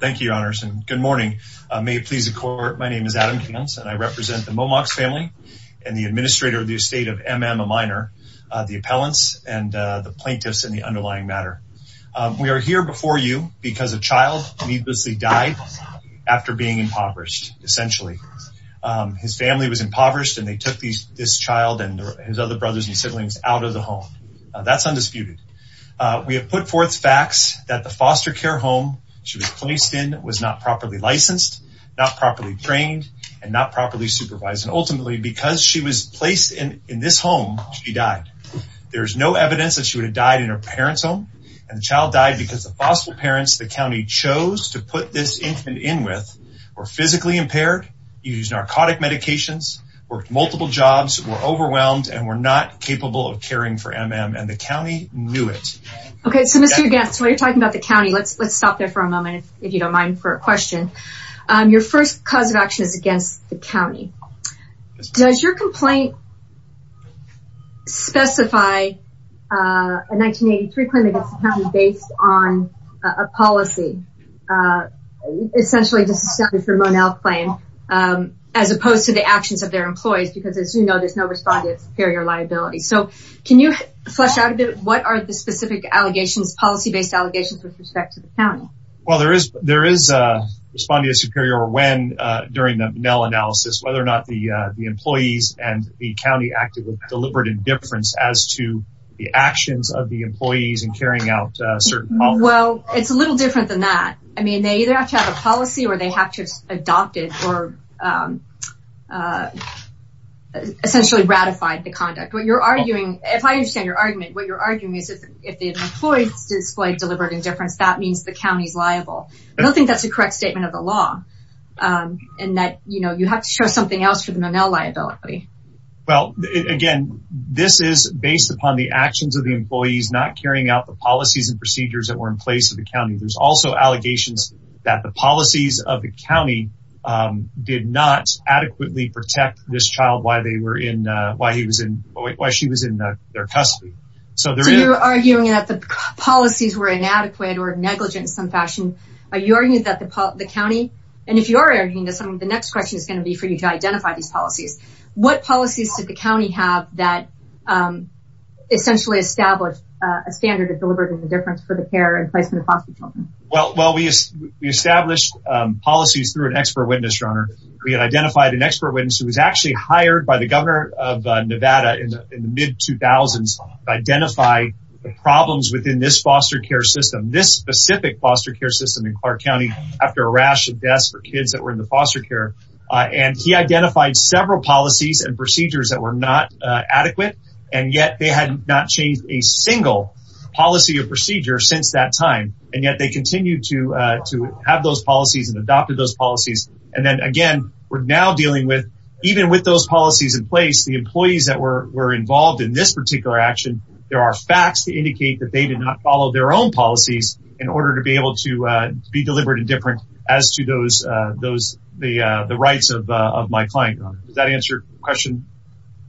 Thank you, your honors, and good morning. May it please the court, my name is Adam Cans and I represent the Momox family and the administrator of the estate of M.M. Minor, the appellants and the plaintiffs in the underlying matter. We are here before you because a child needlessly died after being impoverished, essentially. His family was impoverished and they took this child and his other brothers and siblings out of the home. That's undisputed. We have put forth facts that the foster care home she was placed in was not properly licensed, not properly trained, and not properly supervised. And ultimately, because she was placed in this home, she died. There's no evidence that she would have died in her parent's home and the child died because the foster parents the county chose to put this infant in with were physically impaired, used narcotic medications, worked multiple jobs, were overwhelmed, and were not capable of caring for M.M. and the county knew it. Okay, so Mr. Gantz, while you're talking about the county, let's let's stop there for a moment, if you don't mind, for a question. Your first cause of action is against the county. Does your complaint specify a 1983 claim against the county based on a policy, essentially just a Monell claim, as opposed to the actions of their superior liability? So, can you flesh out what are the specific allegations, policy-based allegations, with respect to the county? Well, there is responding to superior when during the Monell analysis, whether or not the employees and the county acted with deliberate indifference as to the actions of the employees in carrying out certain... Well, it's a little different than that. I mean, they either have to have a policy or they have to adopt it or they have essentially ratified the conduct. What you're arguing, if I understand your argument, what you're arguing is if the employees displayed deliberate indifference, that means the county's liable. I don't think that's a correct statement of the law in that, you know, you have to show something else for the Monell liability. Well, again, this is based upon the actions of the employees not carrying out the policies and procedures that were in place of the county. There's also allegations that the policies of the county did not adequately protect this child while they were in... While she was in their custody. So, you're arguing that the policies were inadequate or negligent in some fashion. Are you arguing that the county... And if you're arguing this, the next question is going to be for you to identify these policies. What policies did the county have that essentially established a standard of deliberate indifference for the care in place for the foster children? Well, we established policies through an expert witness, Your Honor. We had identified an expert witness who was actually hired by the governor of Nevada in the mid 2000s to identify the problems within this foster care system, this specific foster care system in Clark County after a rash of deaths for kids that were in the foster care. And he identified several policies and procedures that were not adequate. And yet they had not changed a single policy or procedure since that time. And yet they continue to have those policies and adopted those policies. And then again, we're now dealing with, even with those policies in place, the employees that were involved in this particular action, there are facts to indicate that they did not follow their own policies in order to be able to be deliberate and different as to the rights of my client. Does that answer your question?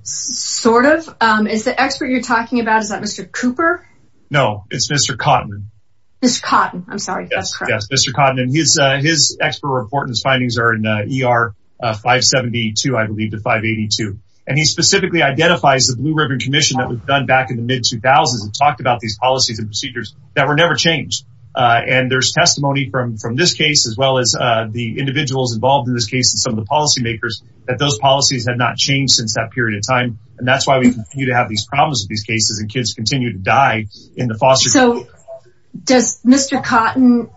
Sort of. Is the expert you're Mr. Cooper? No, it's Mr. Cotton. Mr. Cotton. I'm sorry. Yes. Yes. Mr. Cotton and his, his expert report and his findings are in ER 572, I believe to 582. And he specifically identifies the Blue Ribbon Commission that was done back in the mid 2000s and talked about these policies and procedures that were never changed. And there's testimony from this case, as well as the individuals involved in this case and some of the policymakers that those policies had not changed since that period of time. And that's why we continue to have these problems with these cases and kids continue to die in the foster. So does Mr. Cotton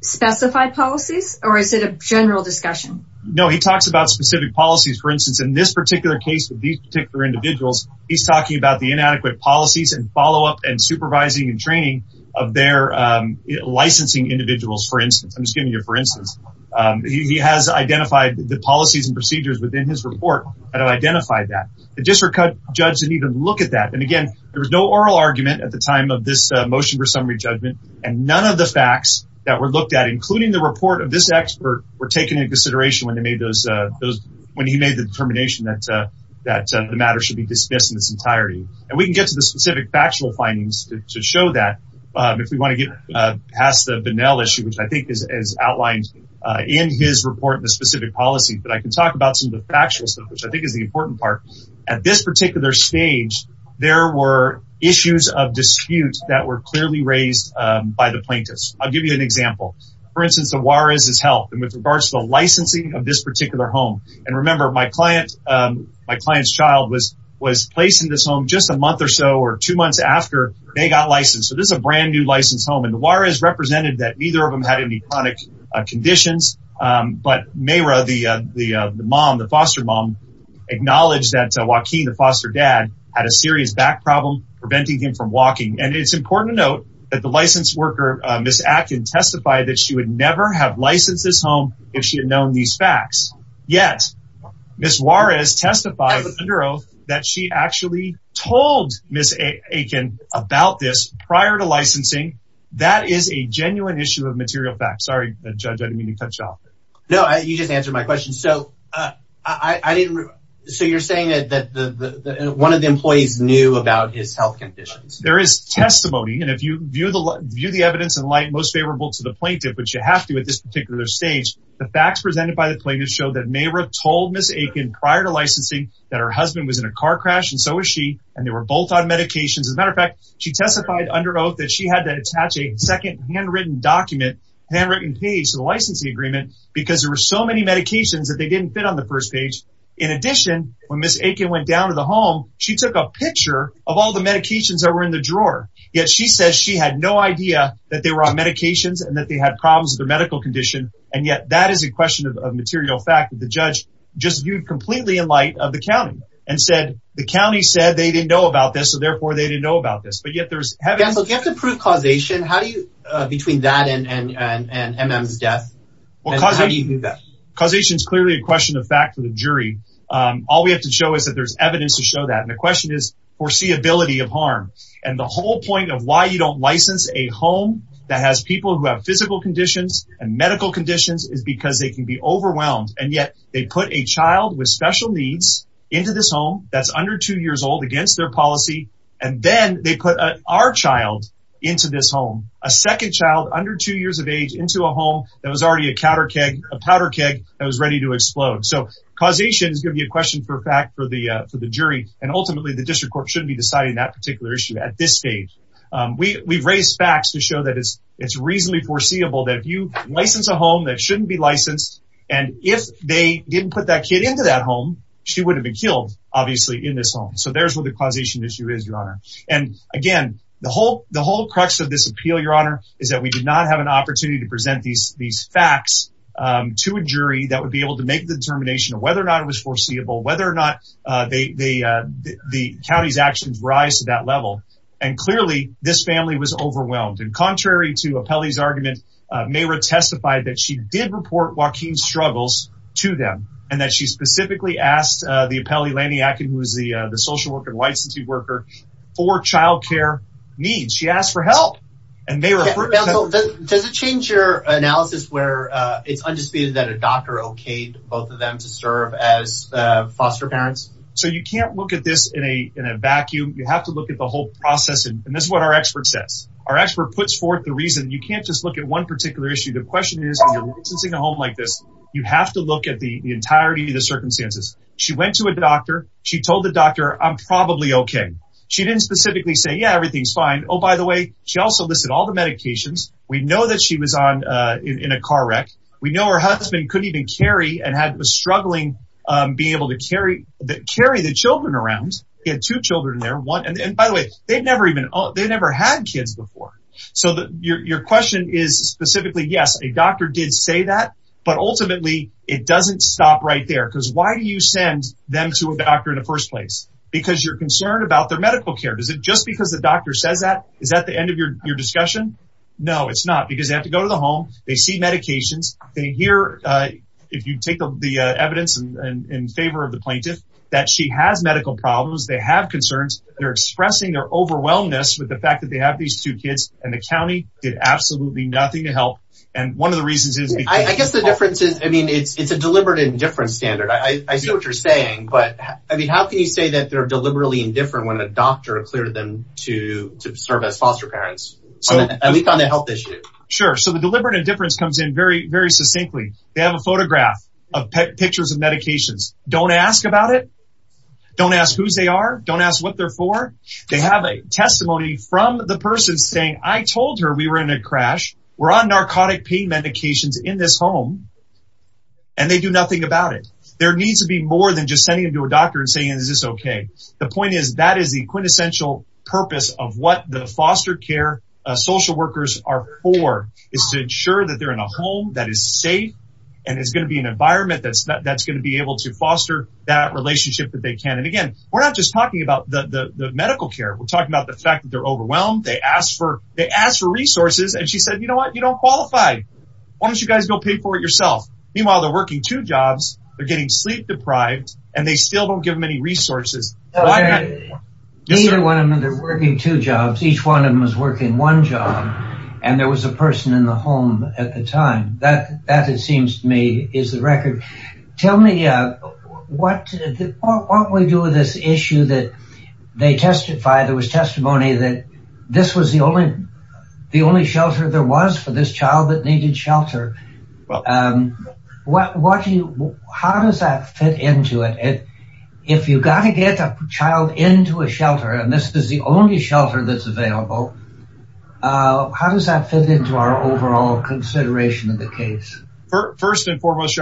specify policies or is it a general discussion? No, he talks about specific policies, for instance, in this particular case with these particular individuals, he's talking about the inadequate policies and follow up and supervising and training of their licensing individuals. For instance, I'm just giving you for instance, he has identified the policies and procedures within his report that have identified that the district judge didn't even look at that. And again, there was no oral argument at the time of this motion for summary judgment. And none of the facts that were looked at, including the report of this expert were taken into consideration when they made those those when he made the determination that that the matter should be dismissed in its entirety. And we can get to the specific factual findings to show that if we want to get past the Benell issue, which I think is outlined in his report in the specific policy, but I can talk about some of the factual stuff, which I think is the important part. At this particular stage, there were issues of dispute that were clearly raised by the plaintiffs. I'll give you an example. For instance, the Juarez has helped him with regards to the licensing of this particular home. And remember, my client, my client's child was was placed in this home just a month or so or two months after they got licensed. So this is a brand new license home and Juarez represented that neither of them had any conditions. But Mayra, the mom, the foster mom, acknowledged that Joaquin, the foster dad, had a serious back problem preventing him from walking. And it's important to note that the licensed worker, Ms. Akin, testified that she would never have licensed this home if she had known these facts. Yet, Ms. Juarez testified under oath that she actually told Ms. Akin about this in a car crash. And so is she. And they were both on medications. As a matter of fact, she testified under oath that she had to attach a second handwritten document, handwritten page to the licensing agreement, because there were so many medications that they didn't fit on the first page. In addition, when Ms. Akin went down to the home, she took a picture of all the medications that were in the drawer. Yet she says she had no idea that they were on medications and that they had problems with their medical condition. And yet that is a question of material fact that the judge just viewed completely in light of the county and said the county said they didn't know about this. So therefore they didn't know about this. You have to prove causation. How do you, between that and MM's death, how do you do that? Causation is clearly a question of fact for the jury. All we have to show is that there's evidence to show that. And the question is foreseeability of harm. And the whole point of why you don't license a home that has people who have physical conditions and medical conditions is because they can be overwhelmed. And yet they put a child with special needs into this home that's under two years old against their policy. And then they put our child into this home. A second child under two years of age into a home that was already a powder keg that was ready to explode. So causation is going to be a question for fact for the jury. And ultimately, the district court shouldn't be deciding that particular issue at this stage. We've raised facts to show that it's reasonably foreseeable that you license a home that shouldn't be licensed. And if they didn't put that kid into that home, she would have been killed, obviously, in this home. So there's what the causation issue is, Your Honor. And again, the whole crux of this appeal, Your Honor, is that we did not have an opportunity to present these facts to a jury that would be able to make the determination of whether or not it was foreseeable, whether or not the county's actions rise to that level. And clearly, this family was overwhelmed. And contrary to Apelli's argument, Mayra testified that she did report Joaquin's struggles to them, and that she specifically asked the Apelli Laniakin, who is the social worker and licensee worker, for child care needs. She asked for help. Does it change your analysis where it's undisputed that a doctor okayed both of them to serve as foster parents? So you can't look at this in a vacuum. You have to look at the whole process. And this is what our expert says. Our expert puts forth the reason. You can't just at one particular issue. The question is, when you're licensing a home like this, you have to look at the entirety of the circumstances. She went to a doctor. She told the doctor, I'm probably okay. She didn't specifically say, yeah, everything's fine. Oh, by the way, she also listed all the medications. We know that she was in a car wreck. We know her husband couldn't even carry and was struggling being able to carry the children around. He had two children there. And by the way, they never had kids before. So your question is specifically, yes, a doctor did say that. But ultimately, it doesn't stop right there. Because why do you send them to a doctor in the first place? Because you're concerned about their medical care. Just because the doctor says that, is that the end of your discussion? No, it's not. Because they have to go to the home. They see medications. They hear, if you take the evidence in favor of the plaintiff, that she has medical problems. They have concerns. They're expressing their overwhelmedness with the fact that they have these two kids. And the county did absolutely nothing to help. And one of the reasons is... I guess the difference is, I mean, it's a deliberate indifference standard. I see what you're saying. But I mean, how can you say that they're deliberately indifferent when a doctor cleared them to serve as foster parents, at least on the health issue? Sure. So the deliberate indifference comes in very, very succinctly. They have a photograph of pictures of medications. Don't ask about it. Don't ask whose they are. Don't ask what they're for. They have a testimony from the person saying, I told her we were in a crash. We're on narcotic pain medications in this home. And they do nothing about it. There needs to be more than just sending them to a doctor and saying, is this okay? The point is, that is the quintessential purpose of what the foster care social workers are for, is to ensure that they're in a home that is safe. And it's going to be an that relationship that they can. And again, we're not just talking about the medical care. We're talking about the fact that they're overwhelmed. They ask for resources. And she said, you know what? You don't qualify. Why don't you guys go pay for it yourself? Meanwhile, they're working two jobs. They're getting sleep deprived, and they still don't give them any resources. Neither one of them are working two jobs. Each one of them was working one job. And there was a person in the home at the time. That, it seems to me, is the record. Tell me, what do we do with this issue that they testified? There was testimony that this was the only shelter there was for this child that needed shelter. How does that fit into it? If you got to get a child into a shelter, and this is the only shelter that's available, how does that fit into our overall consideration of the case? First and foremost,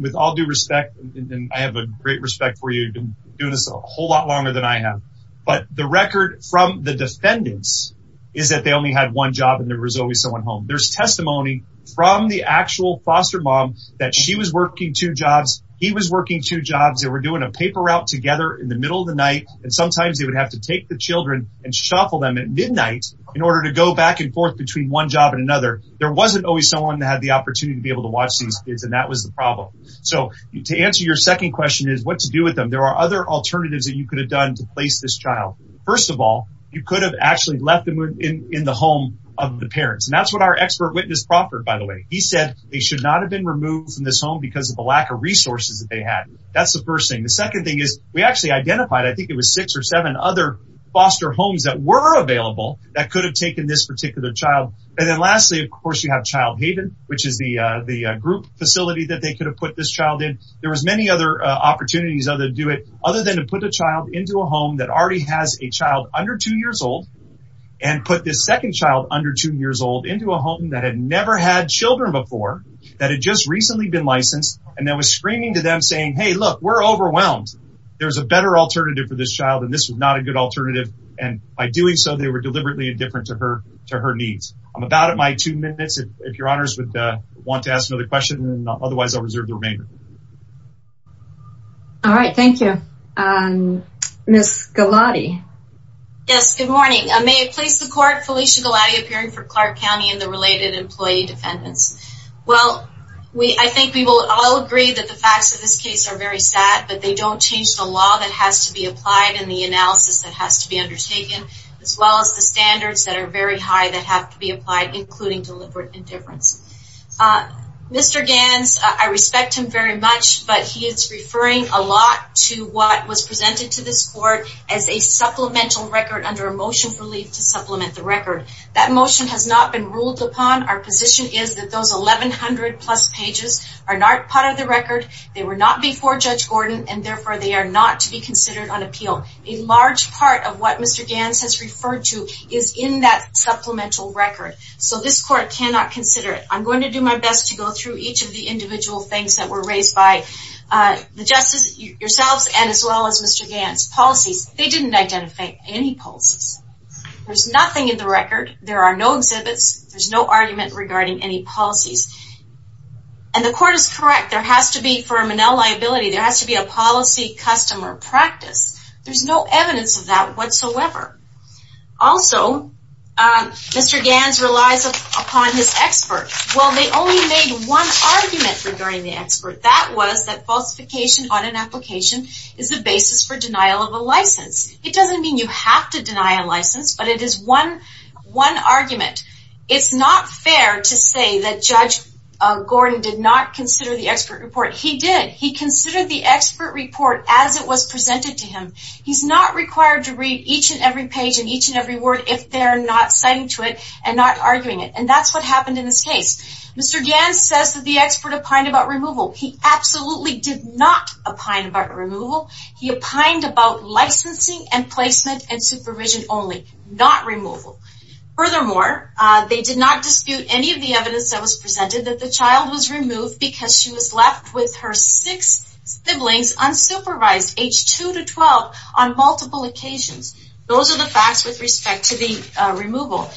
with all due respect, and I have a great respect for you doing this a whole lot longer than I have, but the record from the defendants is that they only had one job, and there was always someone home. There's testimony from the actual foster mom that she was working two jobs. He was working two jobs. They were doing a paper route together in the middle of the night. And sometimes they would have to take the children and shuffle them at midnight in order to go back and forth between one job and another. There wasn't always someone that opportunity to be able to watch these kids, and that was the problem. So to answer your second question, what to do with them, there are other alternatives that you could have done to place this child. First of all, you could have actually left them in the home of the parents. That's what our expert witness proffered, by the way. He said they should not have been removed from this home because of the lack of resources that they had. That's the first thing. The second thing is, we actually identified, I think it was six or seven other foster homes that were available that could have taken this particular child. And then lastly, of course, you have Child Haven, the group facility that they could have put this child in. There were many other opportunities to do it, other than to put a child into a home that already has a child under two years old, and put this second child under two years old into a home that had never had children before, that had just recently been licensed, and that was screaming to them saying, hey, look, we're overwhelmed. There's a better alternative for this child, and this is not a good alternative. And by doing so, they were deliberately indifferent to her needs. I'm about at my two minutes, if your honors would want to ask another question, otherwise I'll reserve the remainder. All right, thank you. Ms. Galati. Yes, good morning. May it please the court, Felicia Galati, appearing for Clark County and the related employee defendants. Well, I think we will all agree that the facts of this case are very sad, but they don't change the law that has to be applied and the analysis that has to be applied, including deliberate indifference. Mr. Gans, I respect him very much, but he is referring a lot to what was presented to this court as a supplemental record under a motion for relief to supplement the record. That motion has not been ruled upon. Our position is that those 1,100 plus pages are not part of the record. They were not before Judge Gordon, and therefore they are not to be considered on appeal. A large part of what Mr. Gans has referred to is in that supplemental record, so this court cannot consider it. I'm going to do my best to go through each of the individual things that were raised by the justices, yourselves, and as well as Mr. Gans. Policies. They didn't identify any policies. There's nothing in the record. There are no exhibits. There's no argument regarding any policies. And the court is correct. There has to be, for a Monell liability, there has to be a policy customer practice. There's no evidence of that whatsoever. Also, Mr. Gans relies upon his expert. Well, they only made one argument regarding the expert. That was that falsification on an application is the basis for denial of a license. It doesn't mean you have to deny a license, but it is one argument. It's not fair to say that Judge Gordon did not consider the expert report. He did. He considered the expert report as it was presented to him. He's required to read each and every page and each and every word if they're not citing to it and not arguing it. And that's what happened in this case. Mr. Gans says that the expert opined about removal. He absolutely did not opine about removal. He opined about licensing and placement and supervision only, not removal. Furthermore, they did not dispute any of the evidence that was presented that the child was removed because she was left with her six siblings unsupervised, age two to twelve, on multiple occasions. Those are the facts with respect to the removal.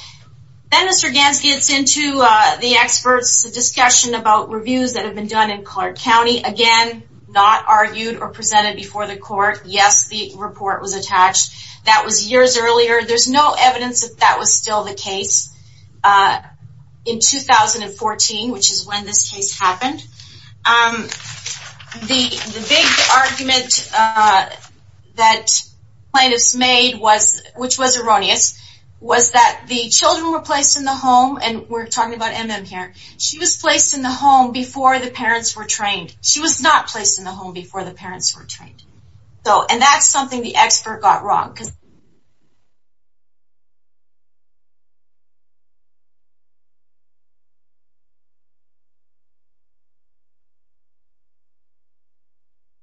Then Mr. Gans gets into the expert's discussion about reviews that have been done in Clark County. Again, not argued or presented before the court. Yes, the report was attached. That was years earlier. There's no evidence that that was still the case in 2014, which is when this case happened. The big argument that plaintiffs made, which was erroneous, was that the children were placed in the home, and we're talking about M.M. here, she was placed in the home before the parents were trained. She was not placed in the home before the parents were trained. And that's something the expert got wrong because they were not placed in the home before the parents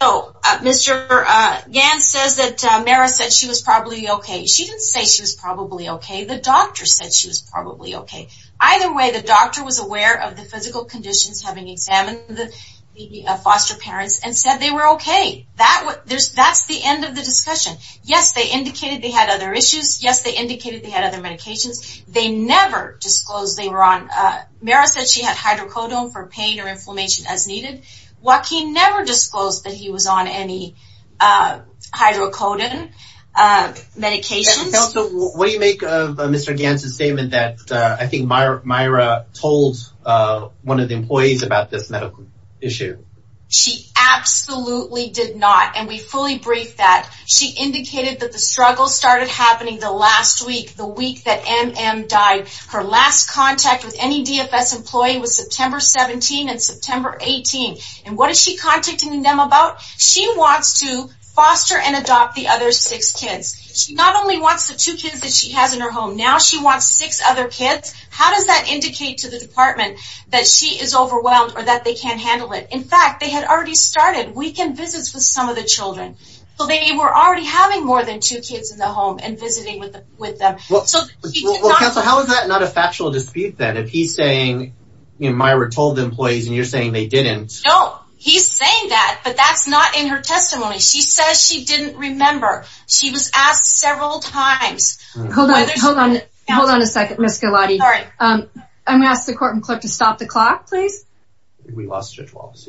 were trained. So, Mr. Gans says that Mara said she was probably okay. She didn't say she was probably okay. The doctor said she was probably okay. Either way, the doctor was aware of the physical conditions having examined the foster parents and said they were okay. That's the end of the discussion. Yes, they indicated they had other issues. Yes, they indicated they had other medications. They never disclosed they were on. Mara said she had hydrocodone for pain or inflammation as needed. Joaquin never disclosed that he was on any hydrocodone medications. What do you make of Mr. Gans' statement that I think Mara told one of the employees about this medical issue? She absolutely did not, and we fully briefed that. She indicated that the struggle started happening the last week, the week that M.M. died. Her last contact with any DFS employee was September 17 and September 18. And what is she contacting them about? She wants to foster and adopt the other six kids. She not only wants the two kids that she has in her home. Now she wants six other kids. How does that indicate to the department that she is overwhelmed or that they can't handle it? In fact, they had already started weekend visits with some of the children. They were already having more than two kids in the home and visiting with them. How is that not a factual dispute then? If he's saying Mara told the employees and you're saying they didn't? No, he's saying that, but that's not in her testimony. She says she didn't remember. She was asked several times. Hold on a second, Ms. Galati. I'm going to ask the court and clerk to stop the clock, please. We lost Judge Wallace.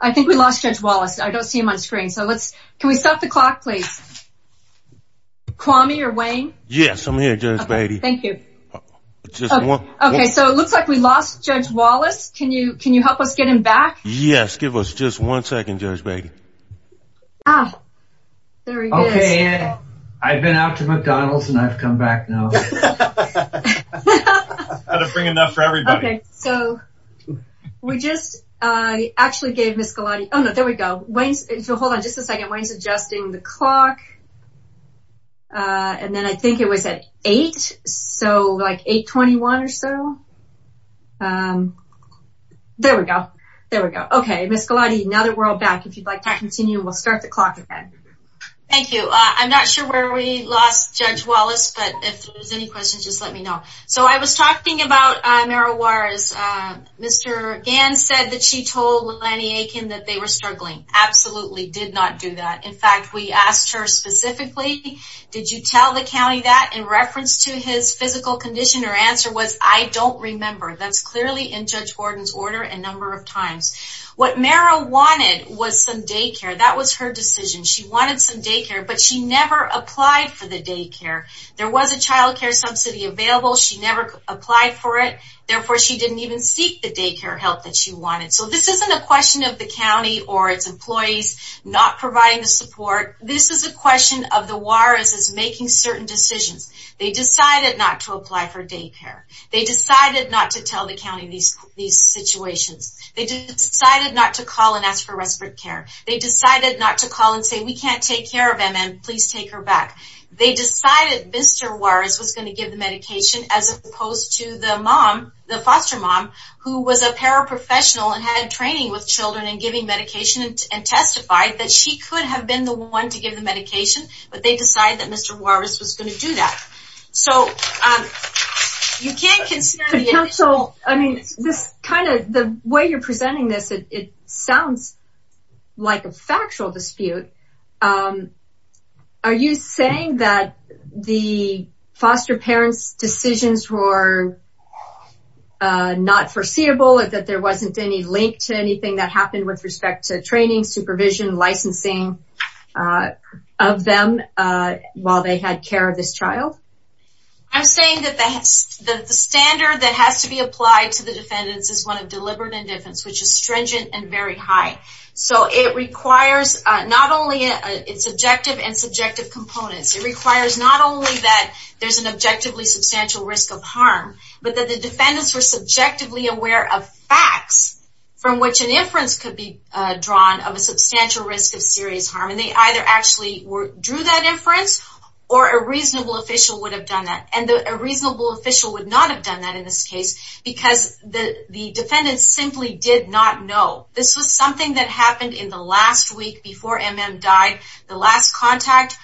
I think we lost Judge Wallace. I don't see him on screen. Can we stop the clock, please? Kwame or Wayne? Yes, I'm here, Judge Beatty. Okay, so it looks like we lost Judge Wallace. Can you help us get him back? Yes, give us just one second, Judge Beatty. Okay, I've been out to McDonald's and I've come back now. I had to bring enough for everybody. Okay, so we just actually gave Ms. Galati... Oh no, there we go. Hold on just a second. Wayne's adjusting the clock and then I think it was at 8, so like 8.21 or so. There we go. There we go. Okay, Ms. Galati, now that we're all back, if you'd like to continue, we'll start the clock again. Thank you. I'm not sure where we lost Judge Wallace, but if there's any questions, just let me know. So I was talking about Merrill Warris. Mr. Gans said that she told Lenny Akin that they were struggling. Absolutely did not do that. In fact, we asked her specifically, did you tell the county that in reference to his physical condition? Her answer was, I don't remember. That's clearly in Judge Gordon's order a number of times. What Merrill wanted was some daycare. That was her decision. She wanted some daycare, but she never applied for the daycare. There was a childcare subsidy available. She never applied for it. Therefore, she didn't even seek the daycare help that she wanted. So this isn't a question of the county or its employees not providing the support. This is a question of the Warris making certain decisions. They decided not to apply for daycare. They decided not to tell the county these situations. They decided not to call and ask for respite care. They decided not to call and say, we can't take care of M.M. Please take her back. They decided Mr. Warris was going to give the medication as opposed to the foster mom who was a paraprofessional and had training with children and giving medication and testified that she could have been the one to give the medication, but they decided that Mr. Warris was going to do that. The way you're presenting this, it sounds like a factual dispute. Are you saying that the foster parents' decisions were not foreseeable, that there wasn't any link to anything that happened with respect to training, supervision, licensing of them while they had care of this child? I'm saying that the standard that has to be applied to the defendants is one of deliberate indifference, which is stringent and very high. So it requires not only its objective and subjective components. It requires not only that there's an objectively substantial risk of harm, but that the defendants were subjectively aware of facts from which an inference could be drawn of a substantial risk of serious harm. And they either actually drew that inference or a reasonable official would have done that. And a reasonable official would not have done that in this case because the defendants simply did not know. This was something that happened in the last week before M.M. died. The last contact,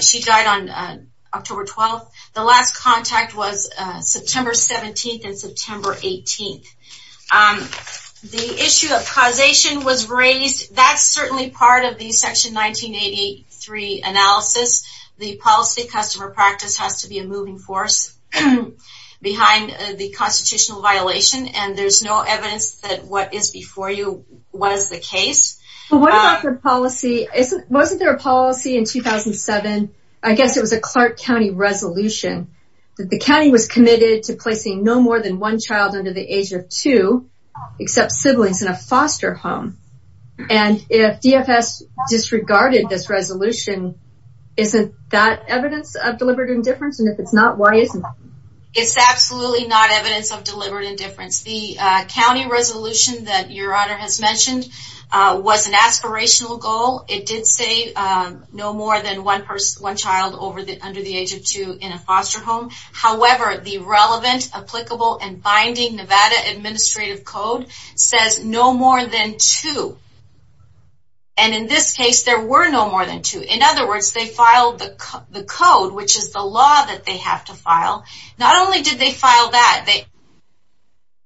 she died on October 12th. The last contact was September 17th and September 18th. The issue of causation was raised. That's certainly part of the Section 1983 analysis. The policy customer practice has to be a moving force behind the constitutional violation. And there's no evidence that what is before you was the case. But what about the policy? Wasn't there a policy in 2007? I guess it was a Clark County resolution that the county was committed to placing no more than one child under the age of two, except siblings in a foster home. And if DFS disregarded this resolution, isn't that evidence of deliberate indifference? And if it's not, why isn't it? It's absolutely not evidence of deliberate indifference. The county resolution that was an aspirational goal, it did say no more than one child under the age of two in a foster home. However, the relevant, applicable, and binding Nevada Administrative Code says no more than two. And in this case, there were no more than two. In other words, they filed the code, which is the law that they have to file. Not only did they file that, they also said that the county was committed to placing no more than one child under the age of two in a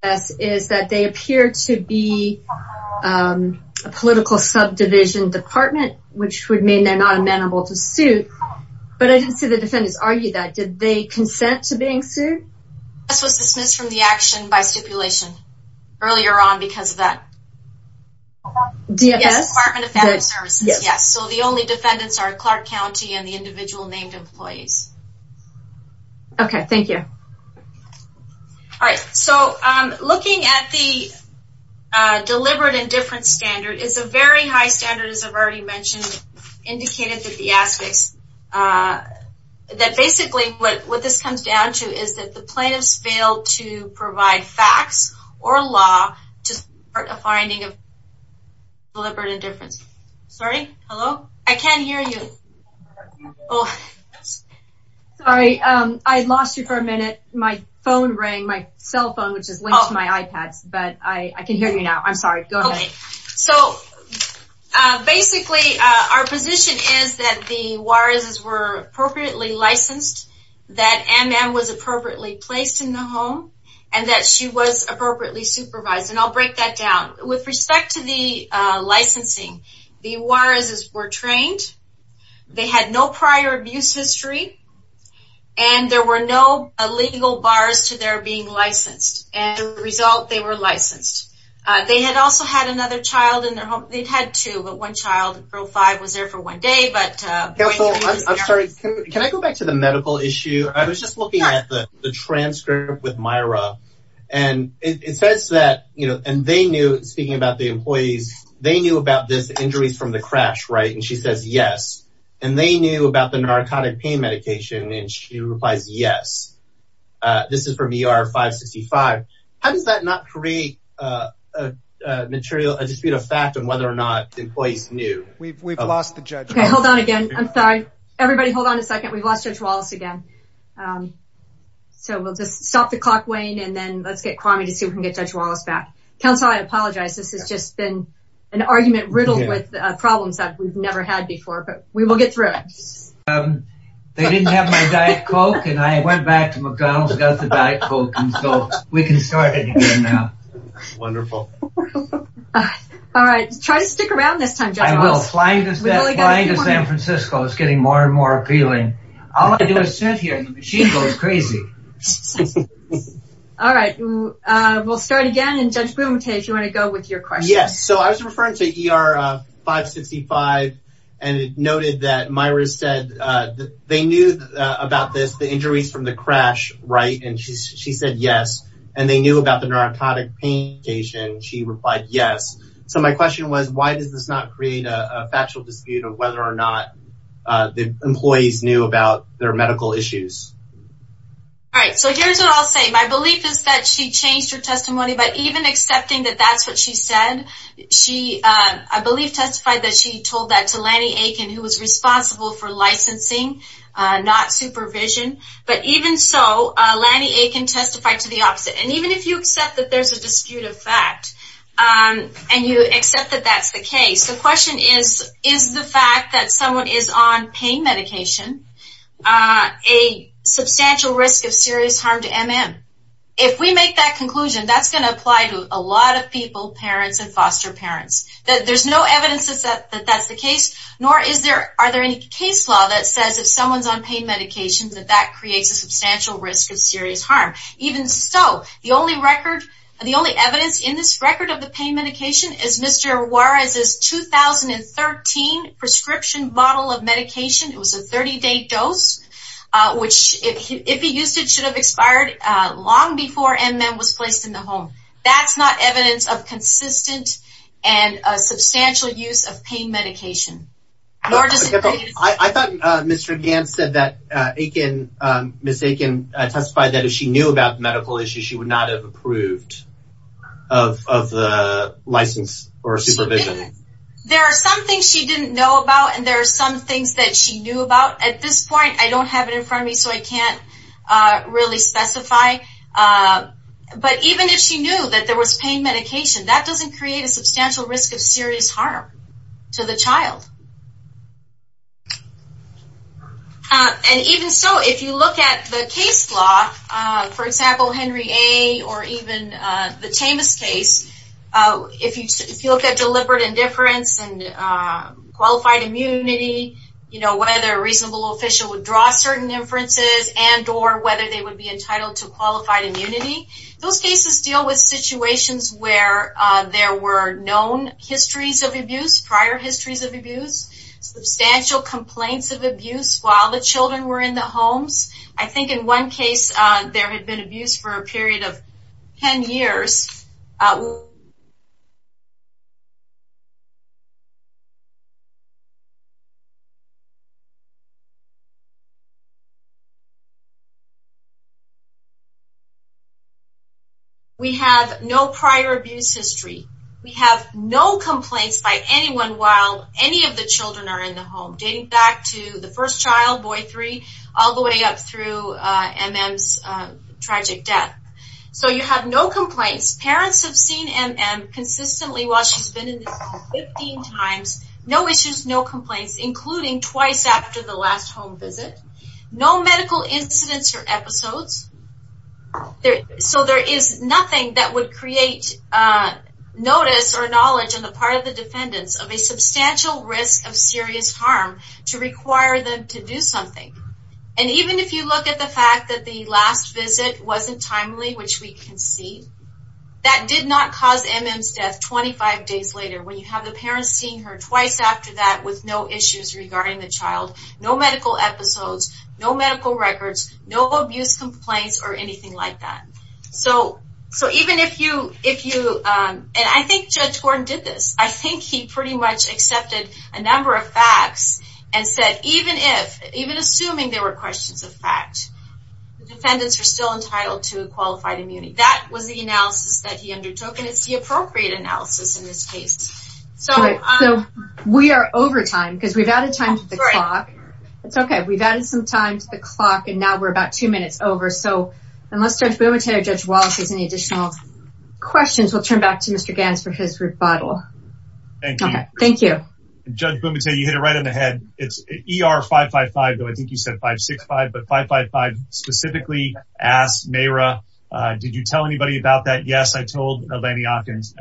foster home. ...is that they appear to be a political subdivision department, which would mean they're not amenable to suit. But I didn't see the defendants argue that. Did they consent to being sued? DFS was dismissed from the action by stipulation earlier on because of that. DFS? Department of Family Services, yes. So the only defendants are Clark County and the individual named employees. Okay, thank you. All right, so looking at the deliberate indifference standard, it's a very high standard, as I've already mentioned, indicated that the aspects... that basically what this comes down to is that the plaintiffs failed to provide facts or law to support a finding of deliberate indifference. Sorry, hello? I can't hear you. Sorry, I lost you for a minute. My phone rang, my cell phone, which is linked to my iPads, but I can hear you now. I'm sorry, go ahead. Okay, so basically our position is that the Juarez's were appropriately licensed, that M.M. was appropriately placed in the home, and that she was appropriately supervised. And I'll break that down. With respect to the licensing, the Juarez's were trained, they had no prior abuse history, and there were no illegal bars to their being licensed. As a result, they were licensed. They had also had another child in their home. They'd had two, but one child, girl five, was there for one day, but... Counsel, I'm sorry, can I go back to the medical issue? I was just looking at the transcript with Myra, and it says that, you know, and they knew, speaking about the employees, they knew about this injuries from the crash, right? And she says, yes. And they knew about the narcotic pain medication, and she replies, yes. This is from ER 565. How does that not create a dispute of fact on whether or not employees knew? We've lost the judge. Okay, hold on again. I'm sorry. Everybody hold on a second. We've lost Judge Wallace again. So we'll just stop the clock, Wayne, and then let's get Kwame to see if we can get Judge Wallace back. Counsel, I apologize. This has just been an argument riddled with problems that we've never had before, but we will get through it. They didn't have my Diet Coke, and I went back to McDonald's and got the Diet Coke, and so we can start it again now. Wonderful. All right, try to stick around this time, Judge Wallace. Flying to San Francisco is getting more and more appealing. All I do is sit here, and the machine goes crazy. All right. We'll start again, and Judge Bumate, you want to go with your question? Yes. So I was referring to ER 565, and it noted that Myra said they knew about this, the injuries from the crash, right? And she said, yes. And they knew about the narcotic pain medication, and she replied, yes. So my question was, why does this not create a belief that employees knew about their medical issues? All right. So here's what I'll say. My belief is that she changed her testimony, but even accepting that that's what she said, she, I believe, testified that she told that to Lanny Aiken, who was responsible for licensing, not supervision. But even so, Lanny Aiken testified to the opposite. And even if you accept that there's a disputed fact, and you accept that that's the case, the question is, is the fact that someone is on pain medication a substantial risk of serious harm to MM? If we make that conclusion, that's going to apply to a lot of people, parents and foster parents. There's no evidence that that's the case, nor are there any case law that says if someone's on pain medication that that creates a substantial risk of serious harm. Even so, the only record, the only evidence in this record of the pain medication is Mr. Juarez's 2013 prescription model of medication. It was a 30-day dose, which if he used it should have expired long before MM was placed in the home. That's not evidence of consistent and substantial use of pain medication. I thought Mr. Gantz said that Aiken, Ms. Aiken testified that if she knew about medical issues, she would not have approved of the license or supervision. There are some things she didn't know about, and there are some things that she knew about. At this point, I don't have it in front of me, so I can't really specify. But even if she knew that there was pain medication, that doesn't create a substantial risk of serious harm to the child. And even so, if you look at the case law, for example, Henry A., or even the Chamis case, if you look at deliberate indifference and qualified immunity, you know, whether a reasonable official would draw certain inferences and or whether they would be entitled to qualified immunity, those cases deal with situations where there were known histories of abuse, prior histories of abuse, substantial complaints of abuse while the children were in the homes. I think in one case, there had been abuse for a period of 10 years. We have no prior abuse history. We have no complaints by anyone while any of the children are in the home, dating back to the first child, boy three, all the way up through M.M.'s tragic death. So you have no complaints. Parents have seen M.M. consistently while she's been in the home 15 times. No issues, no complaints, including twice after the last home visit. No medical incidents or episodes. So there is nothing that would create notice or knowledge on the part of the defendants of a substantial risk of serious harm to require them to do something. And even if you look at the fact that the last visit wasn't timely, which we can see, that did not cause M.M.'s death 25 days later when you have the parents seeing her twice after that with no issues regarding the child, no medical episodes, no medical records, no abuse complaints or anything like that. So even if you, and I think Judge Gordon did this. I think he pretty much accepted a number of facts and said, even assuming there were questions of fact, the defendants are still entitled to a qualified immunity. That was the analysis that he undertook and it's the appropriate analysis in this case. So we are over time because we've added time to the clock. It's okay. We've added some time to the clock and now we're about two minutes over. So unless Judge Bumate or Judge Wallace has any additional questions, we'll turn back to Mr. Ganz for his rebuttal. Thank you. Judge Bumate, you hit it right on the head. It's ER555, though I think you said 565, but 555 specifically asked Mayra, did you tell anybody about that? Yes, I told Lanny Atkins.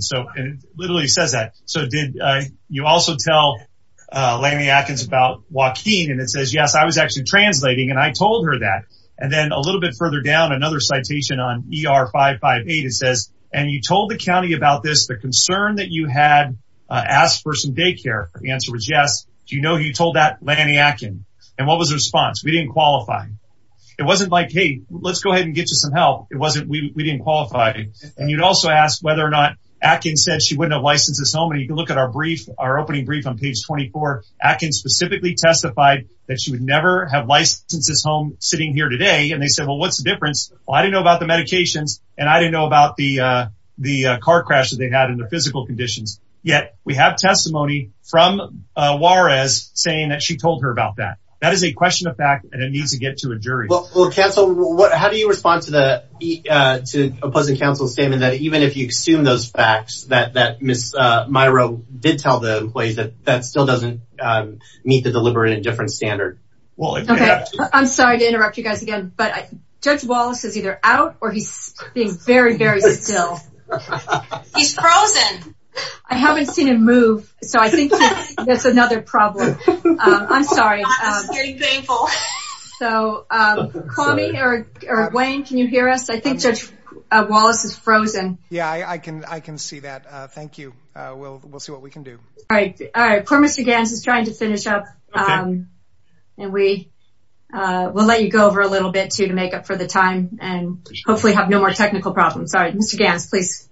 So it literally says that. So did you also tell Lanny Atkins about Joaquin? And it says, yes, I was actually translating and I told her that. And then a little bit further down, another citation on ER558, it says, and you told the county about this, the concern that you had asked for some daycare. The answer was yes. Do you know who you told that? Lanny Atkins. And what was the response? We didn't qualify. It wasn't like, hey, let's go ahead and get you some help. It wasn't, we didn't qualify. And you'd also ask whether or not Atkins said she wouldn't have licensed this home. And you can look at our brief, our opening brief on page 24, Atkins specifically testified that she would never have licensed this home sitting here today. And they said, well, what's the difference? Well, I didn't know about the medications and I didn't know about the car crash that they had and the physical conditions. Yet we have testimony from Juarez saying that she told her about that. That is a question of fact and it needs to get to a jury. Well, counsel, how do you respond to the, to opposing counsel's statement that even if you assume those facts that Ms. Miro did tell the employees that that still doesn't meet the deliberate indifference standard? Okay, I'm either out or he's being very, very still. He's frozen. I haven't seen him move. So I think that's another problem. I'm sorry. It's getting painful. So call me or Wayne, can you hear us? I think Judge Wallace is frozen. Yeah, I can, I can see that. Thank you. We'll, we'll see what we can do. All right. All right. Poor Mr. Ganz is trying to finish up. And we will let you go over a little bit too to make up for the time and hopefully have no more technical problems. All right. Mr. Ganz, please.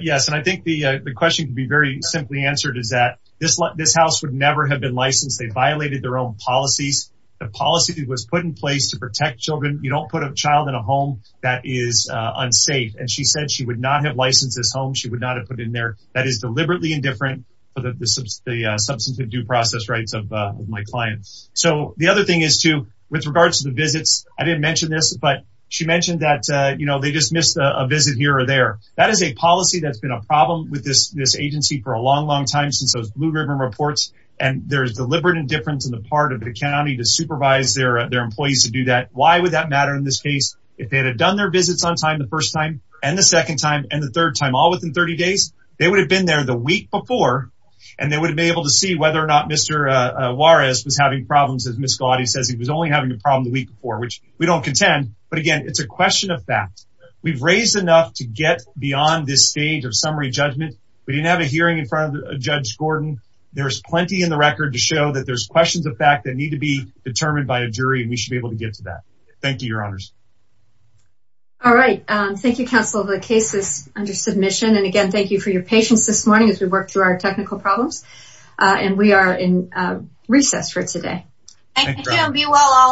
Yes. And I think the question can be very simply answered is that this, this house would never have been licensed. They violated their own policies. The policy that was put in place to protect children. You don't put a child in a home that is unsafe. And she said she would not have licensed this home. She would not have put in there that is deliberately indifferent for the substance of due process rights of my clients. So the other thing is too, with regards to the but she mentioned that, you know, they just missed a visit here or there. That is a policy that's been a problem with this, this agency for a long, long time since those Blue Ribbon reports, and there's deliberate indifference in the part of the county to supervise their, their employees to do that. Why would that matter in this case, if they had done their visits on time the first time, and the second time and the third time all within 30 days, they would have been there the week before. And they would be able to see whether or not Mr. Juarez was having problems says he was only having a problem the week before, which we don't contend. But again, it's a question of fact. We've raised enough to get beyond this stage of summary judgment. We didn't have a hearing in front of Judge Gordon. There's plenty in the record to show that there's questions of fact that need to be determined by a jury and we should be able to get to that. Thank you, Your Honors. All right. Thank you, counsel. The case is under submission. And again, thank you for your patience this morning as we work through our technical problems. And we are in recess for today. Thank you and be well all